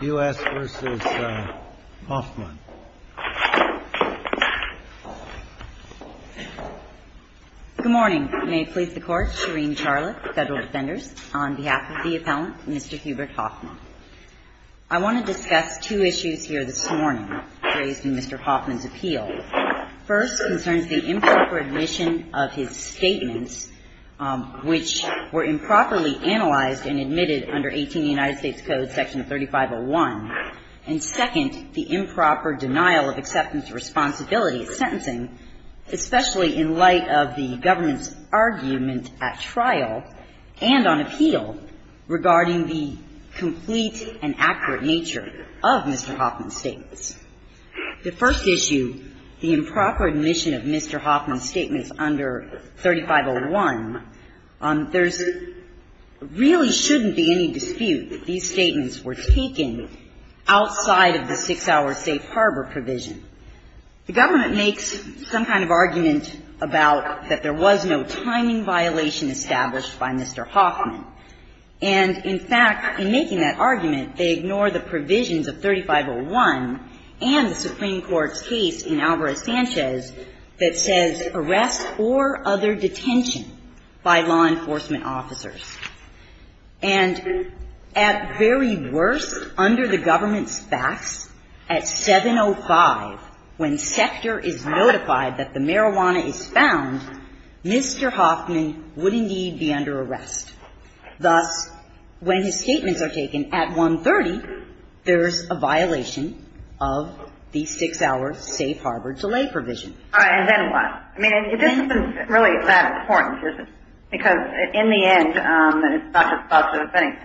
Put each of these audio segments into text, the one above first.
Good morning. May it please the Court, Shereen Charlotte, Federal Defenders, on behalf of the appellant, Mr. Hubert Hoffman. I want to discuss two issues here this morning raised in Mr. Hoffman's appeal. First concerns the improper admission of his statements, which were improperly analyzed and admitted under 18 United States Code section 3501. And second, the improper denial of acceptance of responsibility of sentencing, especially in light of the government's argument at trial and on appeal regarding the complete and accurate nature of Mr. Hoffman's statements. The first issue, the improper admission of Mr. Hoffman's statements under 3501, there really shouldn't be any dispute that these statements were taken outside of the 6-hour safe harbor provision. The government makes some kind of argument about that there was no timing violation established by Mr. Hoffman. And, in fact, in making that argument, they ignore the provisions of 3501 and the Supreme Court's decision by law enforcement officers. And at very worst, under the government's facts, at 705, when Sector is notified that the marijuana is found, Mr. Hoffman would indeed be under arrest. Thus, when his statements are taken at 130, there's a violation of the 6-hour safe harbor delay provision. And then what? I mean, this isn't really that important, is it? Because, in the end, it's not just about the defendants.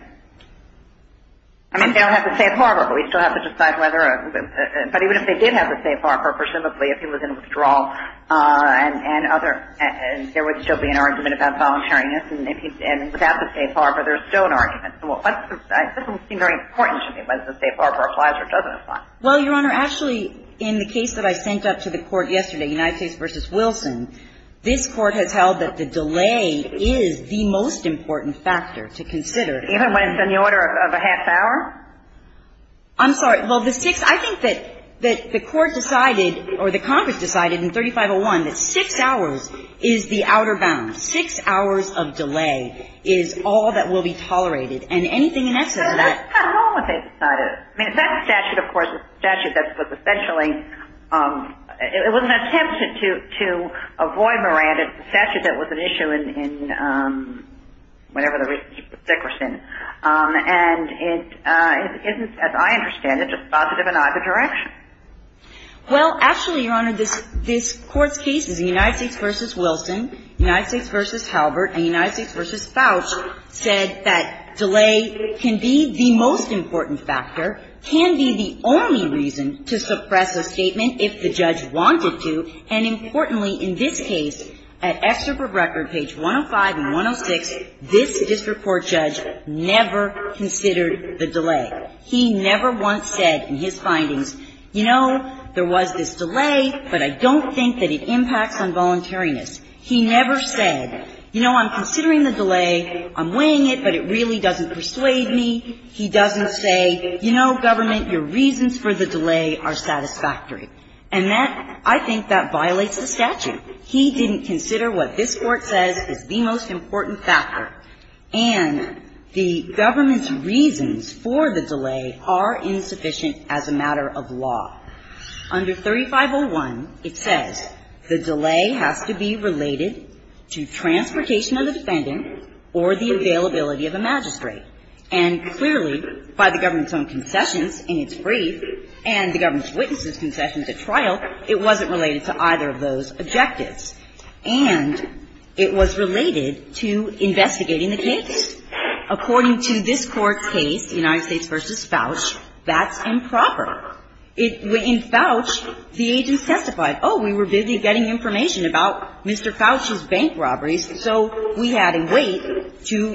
I mean, they don't have the safe harbor, but we still have to decide whether or not. But even if they did have the safe harbor, presumably, if he was in withdrawal and other, there would still be an argument about voluntariness. And without the safe harbor, there's still an argument. This doesn't seem very important to me, whether the safe harbor applies or doesn't apply. Well, Your Honor, actually, in the case that I sent up to the Court yesterday, United States v. Wilson, this Court has held that the delay is the most important factor to consider. Even when it's in the order of a half hour? I'm sorry. Well, the six – I think that the Court decided, or the Congress decided in 3501, that six hours is the outer bound. Six hours of delay is all that will be tolerated. And anything in excess of that – I don't know what they decided. I mean, if that statute, of course, is the statute that was essentially – it was an attempt to avoid Miranda. It's the statute that was an issue in whatever the reason was Dickerson. And it isn't, as I understand it, just positive in either direction. Well, actually, Your Honor, this Court's case is United States v. Wilson, United States v. The most important factor can be the only reason to suppress a statement if the judge wanted to. And importantly, in this case, at Excerpt of Record, page 105 and 106, this district court judge never considered the delay. He never once said in his findings, you know, there was this delay, but I don't think that it impacts on voluntariness. He never said, you know, I'm considering the delay. I'm weighing it, but it really doesn't persuade me. He doesn't say, you know, government, your reasons for the delay are satisfactory. And that – I think that violates the statute. He didn't consider what this Court says is the most important factor. And the government's reasons for the delay are insufficient as a matter of law. Under 3501, it says the delay has to be related to transportation of the defendant or the availability of a magistrate. And clearly, by the government's own concessions in its brief and the government's witnesses' concessions at trial, it wasn't related to either of those objectives. And it was related to investigating the case. According to this Court's case, United States v. Fauch, that's improper. In Fauch, the agents testified, oh, we were busy getting information about Mr. Fauch's bank robberies, so we had to wait to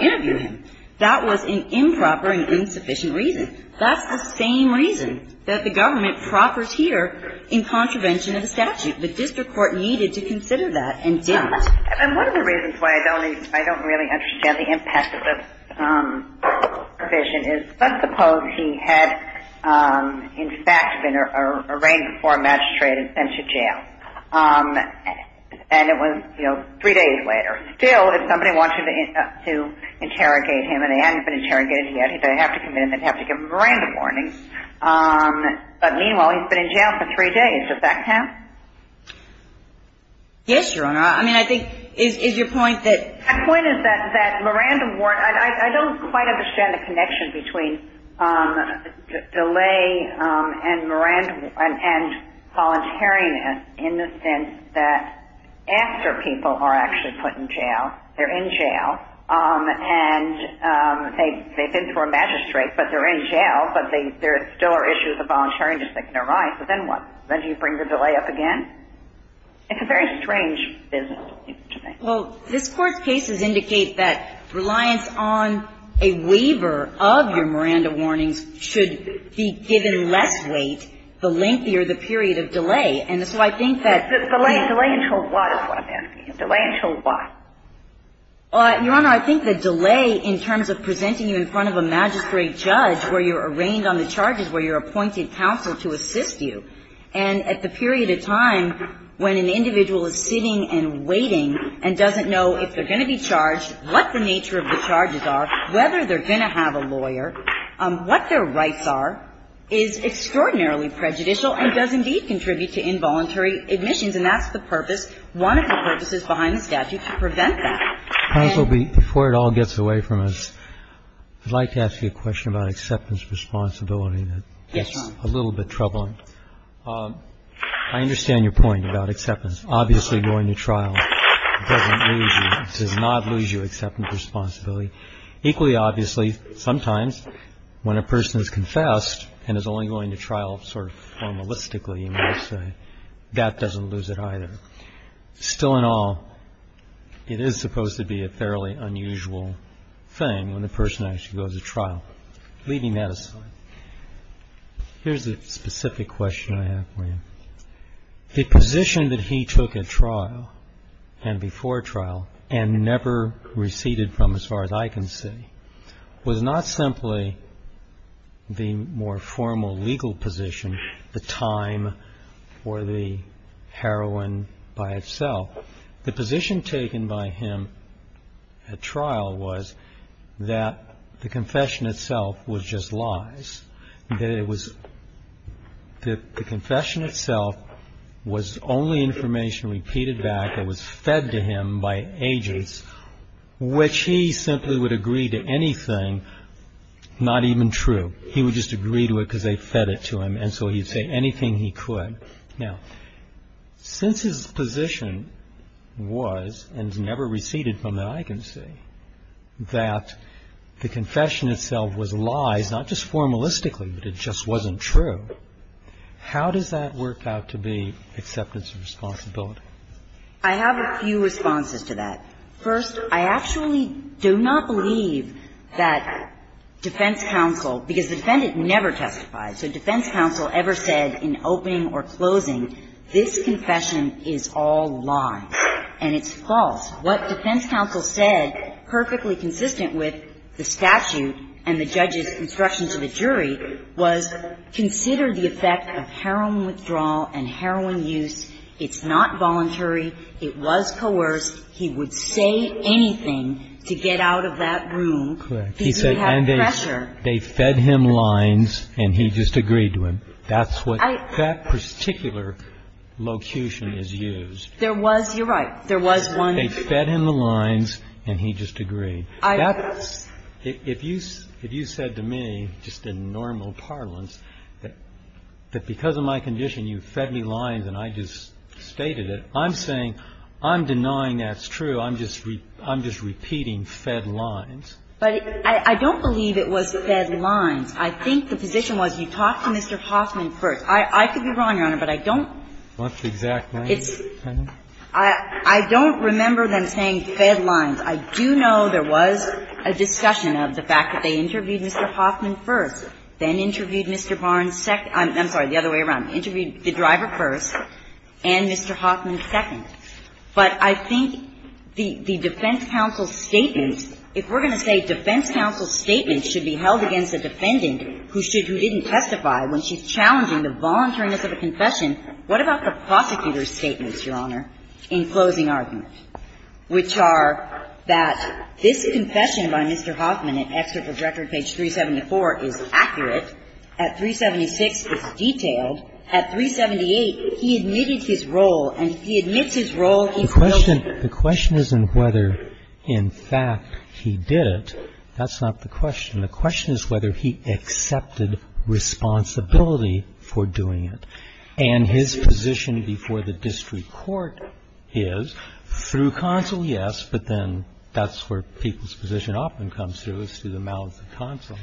interview him. That was an improper and insufficient reason. That's the same reason that the government proffers here in contravention of the statute. The district court needed to consider that and didn't. And one of the reasons why I don't really understand the impact of this provision is let's suppose he had in fact been arraigned before a magistrate and sent to jail. And it was, you know, three days later. Still, if somebody wanted to interrogate him and he hadn't been interrogated yet, he'd have to commit him and have to give him a mirandum warning. But meanwhile, he's been in jail for three days. Does that count? Yes, Your Honor. I mean, I think – is your point that – My point is that that mirandum warning – I don't quite understand the connection between delay and voluntariness in the sense that after people are actually put in jail, they're in jail, and they've been to a magistrate, but they're in jail, but there still are issues of voluntariness that can arise. But then what? Then do you bring the delay up again? It's a very strange business. Well, this Court's cases indicate that reliance on a waiver of your mirandum warnings should be given less weight the lengthier the period of delay. And so I think that the – Delay until what is what I'm asking? Delay until what? Your Honor, I think the delay in terms of presenting you in front of a magistrate judge where you're arraigned on the charges, where you're appointed counsel to assist you, and at the period of time when an individual is sitting and waiting and doesn't know if they're going to be charged, what the nature of the charges are, whether they're going to have a lawyer, what their rights are, is extraordinarily prejudicial and does indeed contribute to involuntary admissions, and that's the purpose, one of the purposes behind the statute, to prevent that. Counsel, before it all gets away from us, I'd like to ask you a question about acceptance responsibility that gets a little bit troubling. I understand your point about acceptance. Obviously, going to trial doesn't lose you. It does not lose you acceptance responsibility. Equally obviously, sometimes when a person is confessed and is only going to trial sort of formalistically, you might say, that doesn't lose it either. Still in all, it is supposed to be a fairly unusual thing when the person actually goes to trial. Leaving that aside, here's a specific question I have for you. The position that he took at trial and before trial and never receded from as far as I can see, was not simply the more formal legal position, the time or the heroine by itself. The position taken by him at trial was that the confession itself was just lies, that it was, that the confession itself was only information repeated back that was fed to him by agents, which he simply would agree to anything not even true. He would just agree to it because they fed it to him, and so he'd say anything he could. Now, since his position was, and never receded from that I can see, that the confession itself was lies, not just formalistically, but it just wasn't true, how does that work out to be acceptance of responsibility? I have a few responses to that. First, I actually do not believe that defense counsel, because the defendant never testified, so defense counsel ever said in opening or closing, this confession is all lies and it's false. What defense counsel said, perfectly consistent with the statute and the judge's instruction to the jury, was consider the effect of heroine withdrawal and heroine use, it's not voluntary, it was coerced, he would say anything to get out of that room because he had pressure. They fed him lines and he just agreed to them. That's what that particular locution is used. There was, you're right, there was one. They fed him the lines and he just agreed. That's, if you said to me, just in normal parlance, that because of my condition you fed me lines and I just stated it, I'm saying I'm denying that's true. I'm just repeating fed lines. But I don't believe it was fed lines. I think the position was you talk to Mr. Hoffman first. I could be wrong, Your Honor, but I don't. What's the exact name? I don't remember them saying fed lines. I do know there was a discussion of the fact that they interviewed Mr. Hoffman first, then interviewed Mr. Barnes second. I'm sorry, the other way around. Interviewed the driver first and Mr. Hoffman second. But I think the defense counsel's statements, if we're going to say defense counsel's statements should be held against a defendant who should, who didn't testify when she's challenging the voluntariness of a confession, what about the prosecutor's statements, Your Honor, in closing argument, which are that this confession by Mr. Hoffman, an excerpt from record page 374, is accurate. At 376, it's detailed. At 378, he admitted his role, and he admits his role. He's guilty. The question isn't whether, in fact, he did it. That's not the question. The question is whether he accepted responsibility for doing it. And his position before the district court is, through counsel, yes, but then that's where people's position often comes through, is through the mouths of counsel.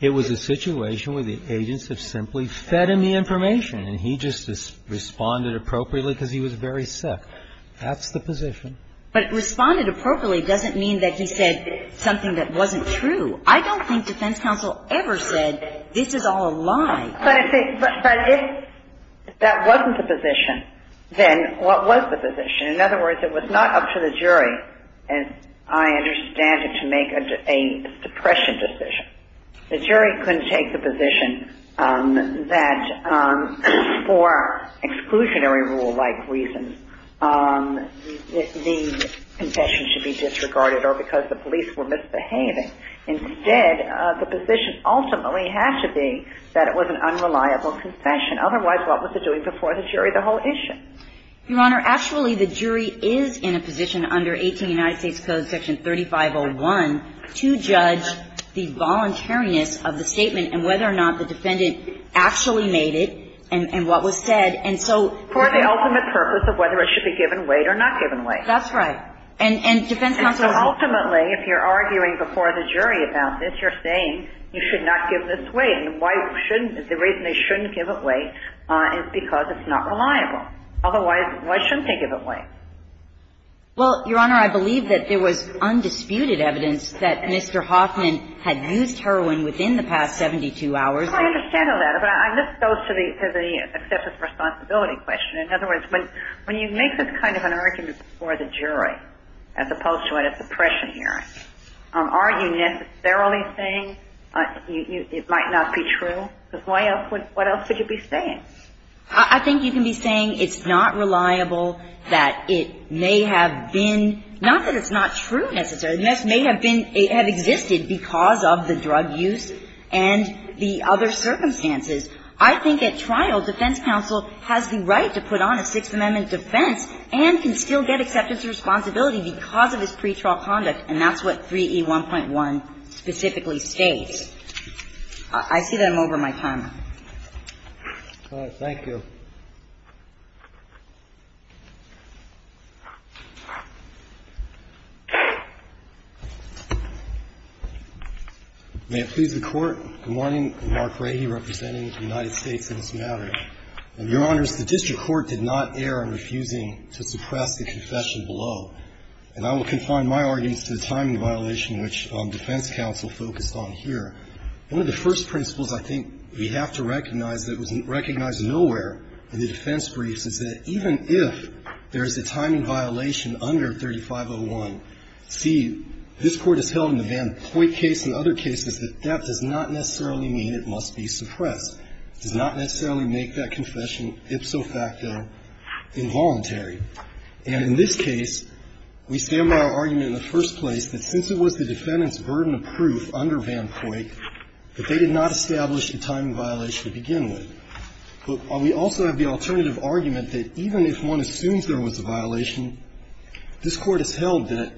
It was a situation where the agents have simply fed him the information, and he just responded appropriately because he was very sick. That's the position. But responded appropriately doesn't mean that he said something that wasn't true. I don't think defense counsel ever said this is all a lie. But if that wasn't the position, then what was the position? In other words, it was not up to the jury, as I understand it, to make a suppression decision. The jury couldn't take the position that for exclusionary rule-like reasons, the confession should be disregarded or because the police were misbehaving. Instead, the position ultimately had to be that it was an unreliable confession. Otherwise, what was it doing before the jury, the whole issue? Your Honor, actually, the jury is in a position under 18 United States Code section 3501 to judge the voluntariness of the statement and whether or not the defendant actually made it and what was said. And so the ultimate purpose of whether it should be given weight or not given weight. That's right. And defense counsel is ultimately, if you're arguing before the jury about this, you're saying you should not give this weight. And why shouldn't they? The reason they shouldn't give it weight is because it's not reliable. Otherwise, why shouldn't they give it weight? Well, Your Honor, I believe that there was undisputed evidence that Mr. Hoffman had used heroin within the past 72 hours. I understand all that. But I just go to the acceptance responsibility question. In other words, when you make this kind of an argument before the jury as opposed to at a suppression hearing, are you necessarily saying it might not be true? Because why else would you be saying? I think you can be saying it's not reliable, that it may have been, not that it's not true necessarily, it may have existed because of the drug use and the other circumstances. I think at trial, defense counsel has the right to put on a Sixth Amendment defense and can still get acceptance of responsibility because of his pretrial conduct. And that's what 3E1.1 specifically states. I see that I'm over my time. Thank you. May it please the Court. Good morning. I'm Mark Rahe, representing the United States in this matter. Your Honors, the district court did not err in refusing to suppress the confession below. And I will confine my arguments to the timing violation, which defense counsel focused on here. One of the first principles I think we have to recognize that was recognized nowhere in the defense briefs is that even if there is a timing violation under 3501, see, this Court has held in the Van Poit case and other cases that that does not necessarily mean it must be suppressed. It does not necessarily make that confession ipso facto involuntary. And in this case, we stand by our argument in the first place that since it was the defendant's burden of proof under Van Poit that they did not establish the timing violation to begin with. But we also have the alternative argument that even if one assumes there was a violation, this Court has held that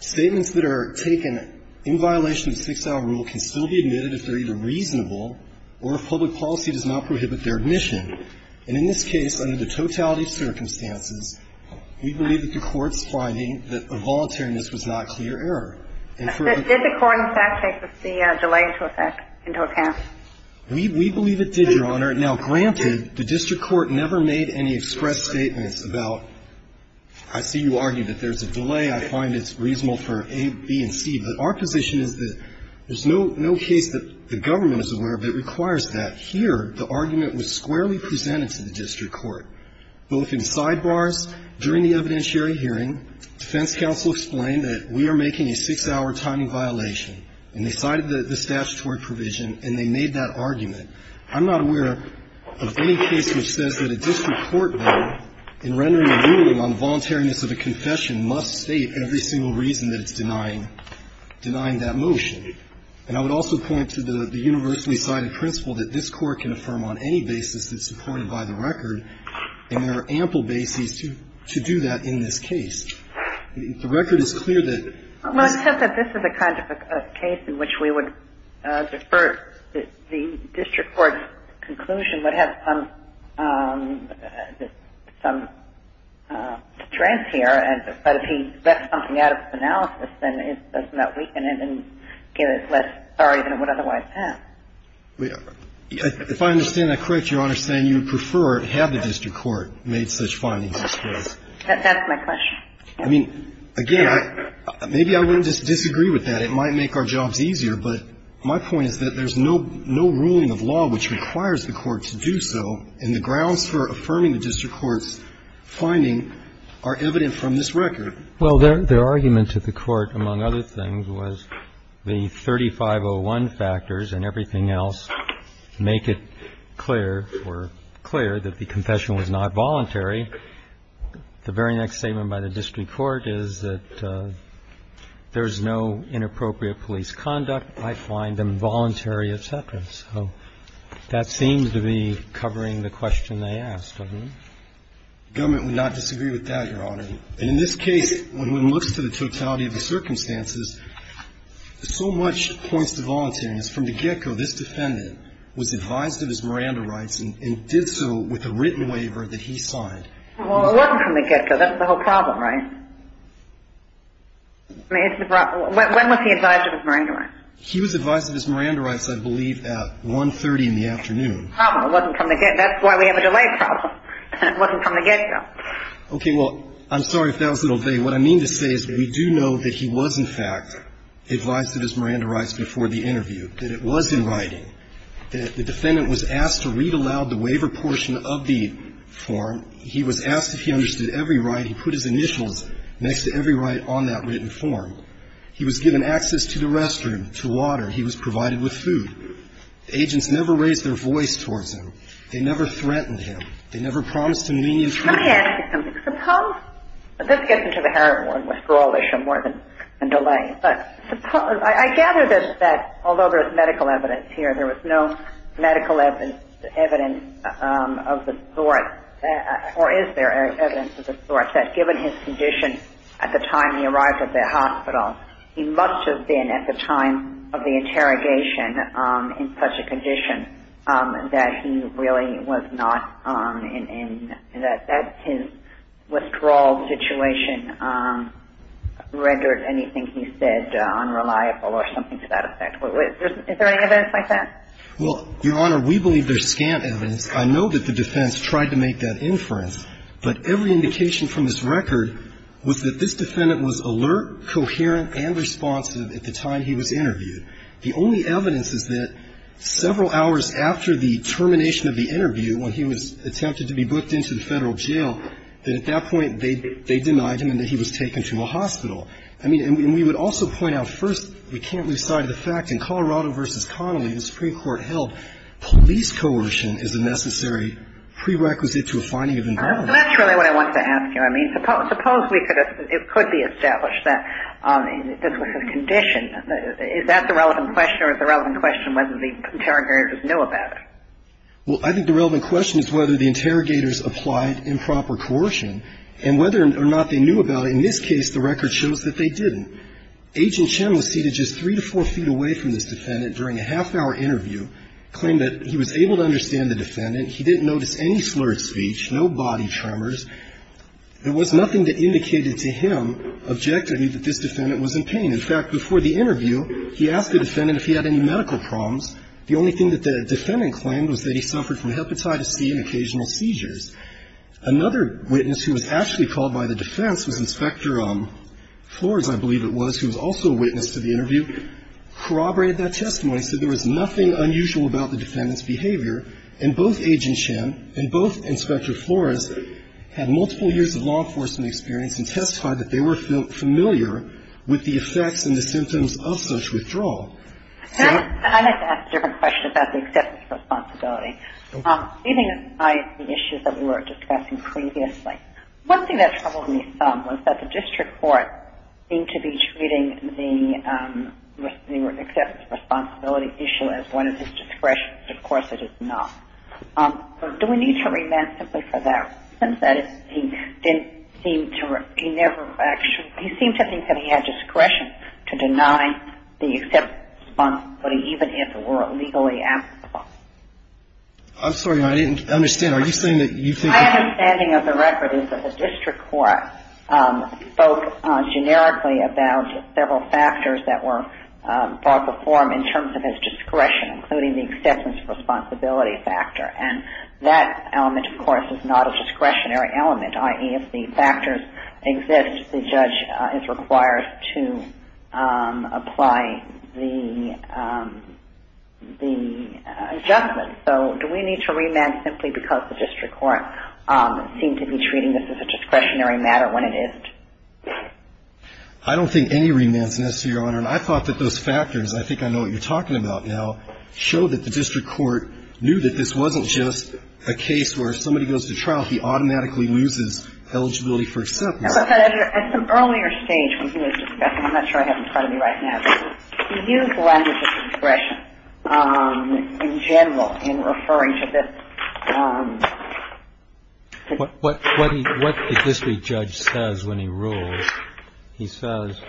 statements that are taken in violation of the six-hour rule can still be admitted if they're either reasonable or if public policy does not prohibit their admission. And in this case, under the totality of circumstances, we believe that the Court's finding that involuntariness was not clear error. And for the ---- Did the Court, in fact, take the delay into effect, into account? We believe it did, Your Honor. Now, granted, the district court never made any express statements about ---- I see you argue that there's a delay. I find it's reasonable for A, B, and C. But our position is that there's no case that the government is aware of that requires that. Here, the argument was squarely presented to the district court, both in sidebars during the evidentiary hearing. Defense counsel explained that we are making a six-hour timing violation. And they cited the statutory provision, and they made that argument. I'm not aware of any case which says that a district court bill in rendering a ruling on the voluntariness of a confession must state every single reason that it's denying, denying that motion. And I would also point to the universally cited principle that this Court can affirm on any basis that's supported by the record. And there are ample bases to do that in this case. The record is clear that ---- Well, it's just that this is the kind of a case in which we would defer. The district court's conclusion would have some strength here. But if he let something out of his analysis, then it doesn't that weaken it and give it less authority than it would otherwise have. If I understand that correctly, Your Honor, you're saying you would prefer it had the district court made such findings, I suppose. That's my question. I mean, again, maybe I wouldn't just disagree with that. It might make our jobs easier. But my point is that there's no ruling of law which requires the court to do so. And the grounds for affirming the district court's finding are evident from this record. Well, their argument to the court, among other things, was the 3501 factors and everything else make it clear or clear that the confession was not voluntary. The very next statement by the district court is that there's no inappropriate police conduct, I find, involuntary, et cetera. So that seems to be covering the question they asked, doesn't it? The government would not disagree with that, Your Honor. And in this case, when one looks to the totality of the circumstances, so much points to voluntariness. From the get-go, this defendant was advised of his Miranda rights and did so with a written waiver that he signed. Well, it wasn't from the get-go. That's the whole problem, right? I mean, it's the problem. When was he advised of his Miranda rights? He was advised of his Miranda rights, I believe, at 1.30 in the afternoon. Oh, it wasn't from the get-go. That's why we have a delay problem. It wasn't from the get-go. Okay. Well, I'm sorry if that was a little vague. What I mean to say is we do know that he was, in fact, advised of his Miranda rights before the interview, that it was in writing, that the defendant was asked to read aloud the waiver portion of the form. He was asked if he understood every right. He put his initials next to every right on that written form. He was given access to the restroom, to water. He was provided with food. The agents never raised their voice towards him. They never threatened him. They never promised him lenient treatment. Let me ask you something. Suppose this gets into the heroin one with Scrawlish and more than delay, but suppose – I gather that although there's medical evidence here, there was no medical evidence of the sort, or is there evidence of the sort, that given his condition at the time he arrived at the hospital, he must have been at the time of the interrogation in such a condition that he really was not in – that his withdrawal situation rendered anything he said unreliable or something to that effect. Is there any evidence like that? Well, Your Honor, we believe there's scant evidence. I know that the defense tried to make that inference, but every indication from this record was that this defendant was alert, coherent, and responsive at the time he was interviewed. The only evidence is that several hours after the termination of the interview, when he was attempted to be booked into the Federal jail, that at that point they denied him and that he was taken to a hospital. I mean, and we would also point out first, we can't lose sight of the fact in Colorado v. Connolly, the Supreme Court held police coercion is a necessary prerequisite to a finding of involvement. That's really what I wanted to ask you. I mean, suppose we could have – it could be established that this was his condition. Is that the relevant question or is the relevant question whether the interrogators knew about it? Well, I think the relevant question is whether the interrogators applied improper coercion and whether or not they knew about it. In this case, the record shows that they didn't. Agent Chen was seated just three to four feet away from this defendant during a half-hour interview, claimed that he was able to understand the defendant. He didn't notice any slurred speech, no body tremors. There was nothing that indicated to him objectively that this defendant was in pain. In fact, before the interview, he asked the defendant if he had any medical problems. The only thing that the defendant claimed was that he suffered from hepatitis C and occasional seizures. Another witness who was actually called by the defense was Inspector Flores, I believe it was, who was also a witness to the interview, corroborated that testimony, said there was nothing unusual about the defendant's behavior. And both Agent Chen and both Inspector Flores had multiple years of law enforcement experience and testified that they were familiar with the effects and the symptoms of such withdrawal. And I'd like to ask a different question about the acceptance responsibility. Okay. Leaving aside the issues that we were discussing previously, one thing that troubled me some was that the district court seemed to be treating the acceptance responsibility issue as one of his discretions. Of course, it is not. Do we need to remand simply for that reason? That is, he didn't seem to – he never actually – he seemed to think that he had discretion to deny the acceptance responsibility, even if it were legally applicable. I'm sorry. I didn't understand. Are you saying that you think – My understanding of the record is that the district court spoke generically about several factors that were brought before him in terms of his discretion, including the acceptance responsibility factor. And that element, of course, is not a discretionary element, i.e., if the factors exist, the judge is required to apply the adjustment. So do we need to remand simply because the district court seemed to be treating this as a discretionary matter when it isn't? I don't think any remand is necessary, Your Honor. And I thought that those factors – I think I know what you're talking about now – showed that the district court knew that this wasn't just a case where if somebody goes to trial, he automatically loses eligibility for acceptance. As I said, at some earlier stage when he was discussing – I'm not sure I have him part in referring to this. What the district judge says when he rules, he says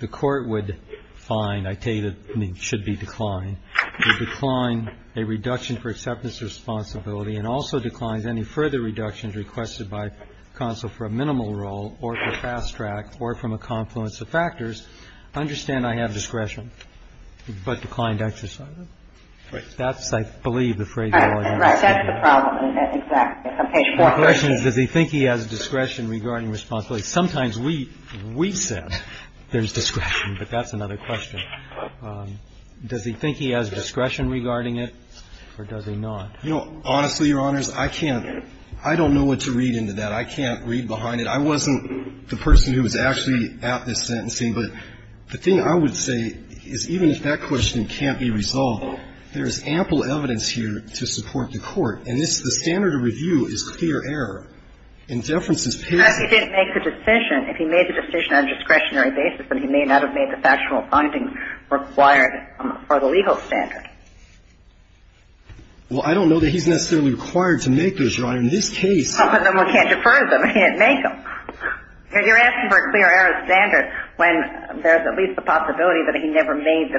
the court would find – I tell you that it should be declined – would decline a reduction for acceptance responsibility and also declines any further reductions requested by counsel for a minimal role or for fast track or from a confluence of factors, understand I have discretion, but declined exercise it. Right. That's, I believe, the phrase you're alluding to. Right. That's the problem, isn't it? The question is does he think he has discretion regarding responsibility. Sometimes we said there's discretion, but that's another question. Does he think he has discretion regarding it or does he not? You know, honestly, Your Honors, I can't – I don't know what to read into that. I can't read behind it. I wasn't the person who was actually at this sentencing, but the thing I would say is even if that question can't be resolved, there is ample evidence here to support the court. And this, the standard of review is clear error. And deference is paid to the court. Unless he didn't make the decision. If he made the decision on a discretionary basis, then he may not have made the factional findings required for the legal standard. Well, I don't know that he's necessarily required to make those, Your Honor. In this case – But no one can't defer them. He can't make them. You're asking for a clear error standard when there's at least the possibility that he never made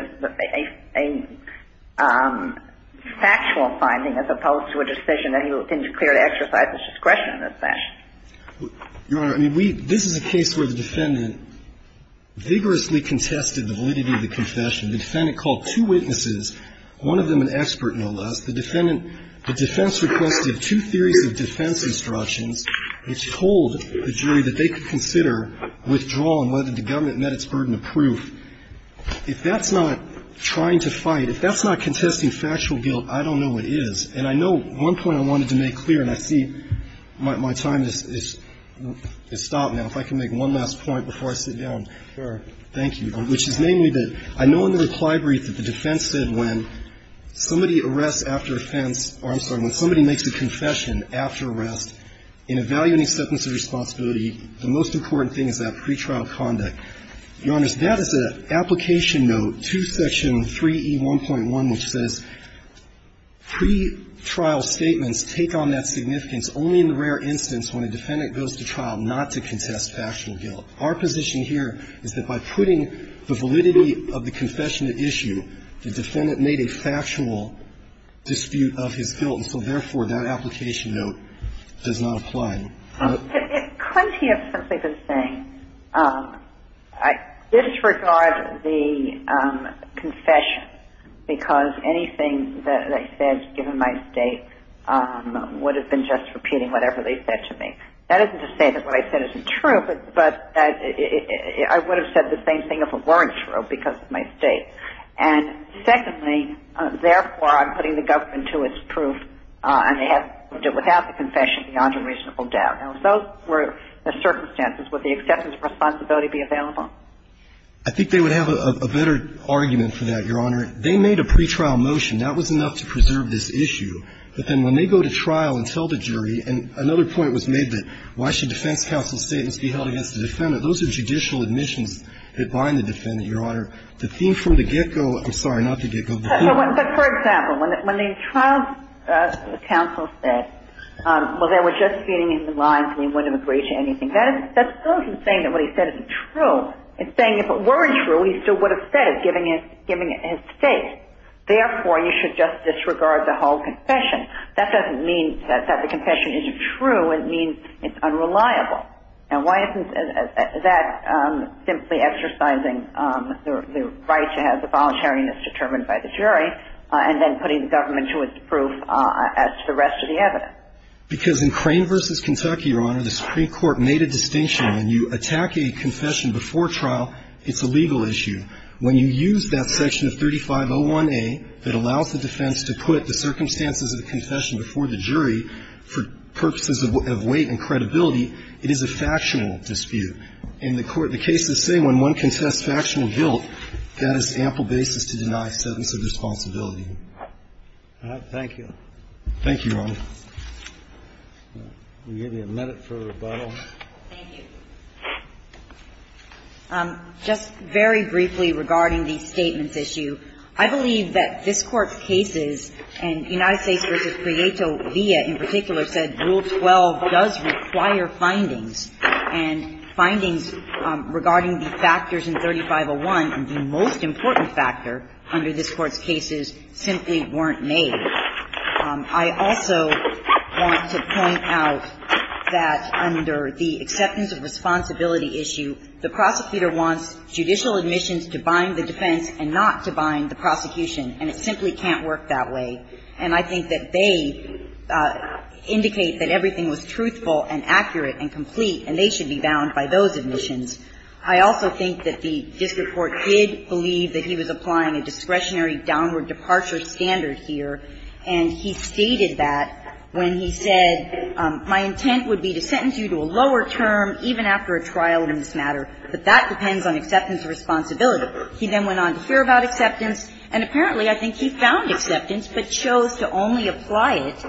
a factual finding as opposed to a decision that he clearly exercised his discretion in this fashion. Your Honor, I mean, we – this is a case where the defendant vigorously contested the validity of the confession. The defendant called two witnesses, one of them an expert, no less. The defendant – the defense requested two theories of defense instructions that told the jury that they could consider withdrawal and whether the government met its burden of proof. If that's not trying to fight, if that's not contesting factual guilt, I don't know what is. And I know one point I wanted to make clear, and I see my time has stopped now. If I can make one last point before I sit down. Sure. Thank you. Which is namely that I know in the reply brief that the defense said when somebody arrests after offense – or I'm sorry, when somebody makes a confession after arrest, in evaluating sentence of responsibility, the most important thing is that pretrial conduct. Your Honors, that is an application note to Section 3E1.1, which says pretrial statements take on that significance only in the rare instance when a defendant goes to trial not to contest factual guilt. Our position here is that by putting the validity of the confession at issue, the defendant made a factual dispute of his guilt. And so, therefore, that application note does not apply. Could he have simply been saying, I disregard the confession because anything that I said given my state would have been just repeating whatever they said to me. That isn't to say that what I said isn't true, but I would have said the same thing if it weren't true because of my state. And secondly, therefore, I'm putting the government to its proof and they have to do it without the confession beyond a reasonable doubt. Now, if those were the circumstances, would the acceptance of responsibility be available? I think they would have a better argument for that, Your Honor. They made a pretrial motion. That was enough to preserve this issue. But then when they go to trial and tell the jury, and another point was made that why should defense counsel's statements be held against the defendant? Those are judicial admissions that bind the defendant, Your Honor. The thing from the get-go – I'm sorry, not the get-go. But for example, when the trial counsel said, well, they were just feeding in the lines and he wouldn't have agreed to anything, that's still saying that what he said isn't true. It's saying if it weren't true, he still would have said it, giving his state. Therefore, you should just disregard the whole confession. That doesn't mean that the confession isn't true. It means it's unreliable. And why isn't that simply exercising the right to have the voluntariness determined by the jury, and then putting the government to its proof as to the rest of the evidence? Because in Crane v. Kentucky, Your Honor, the Supreme Court made a distinction when you attack a confession before trial, it's a legal issue. When you use that section of 3501A that allows the defense to put the circumstances of the confession before the jury for purposes of weight and credibility, it is a factual dispute. And the Court of the case is saying when one contests factual guilt, that is ample basis to deny a sentence of responsibility. All right. Thank you. Thank you, Your Honor. We'll give you a minute for rebuttal. Thank you. Just very briefly regarding the statements issue. I believe that this Court's cases, and United States v. Prieto via in particular said Rule 12 does require findings. And findings regarding the factors in 3501 and the most important factor under this Court's cases simply weren't made. I also want to point out that under the acceptance of responsibility issue, the prosecutor wants judicial admissions to bind the defense and not to bind the prosecution. And it simply can't work that way. And I think that they indicate that everything was truthful and accurate and complete, and they should be bound by those admissions. I also think that the district court did believe that he was applying a discretionary downward departure standard here. And he stated that when he said my intent would be to sentence you to a lower term even after a trial in this matter, but that depends on acceptance of responsibility. He then went on to hear about acceptance. And apparently, I think he found acceptance but chose to only apply it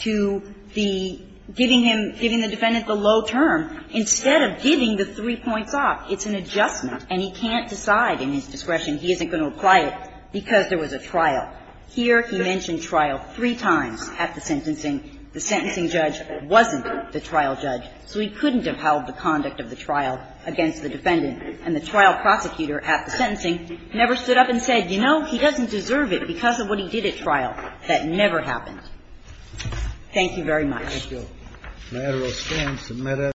to the giving him, giving the defendant the low term instead of giving the three points off. It's an adjustment, and he can't decide in his discretion. He isn't going to apply it because there was a trial. Here he mentioned trial three times at the sentencing. The sentencing judge wasn't the trial judge, so he couldn't have held the conduct of the trial against the defendant. And the trial prosecutor at the sentencing never stood up and said, you know, he doesn't deserve it because of what he did at trial. That never happened. Thank you very much.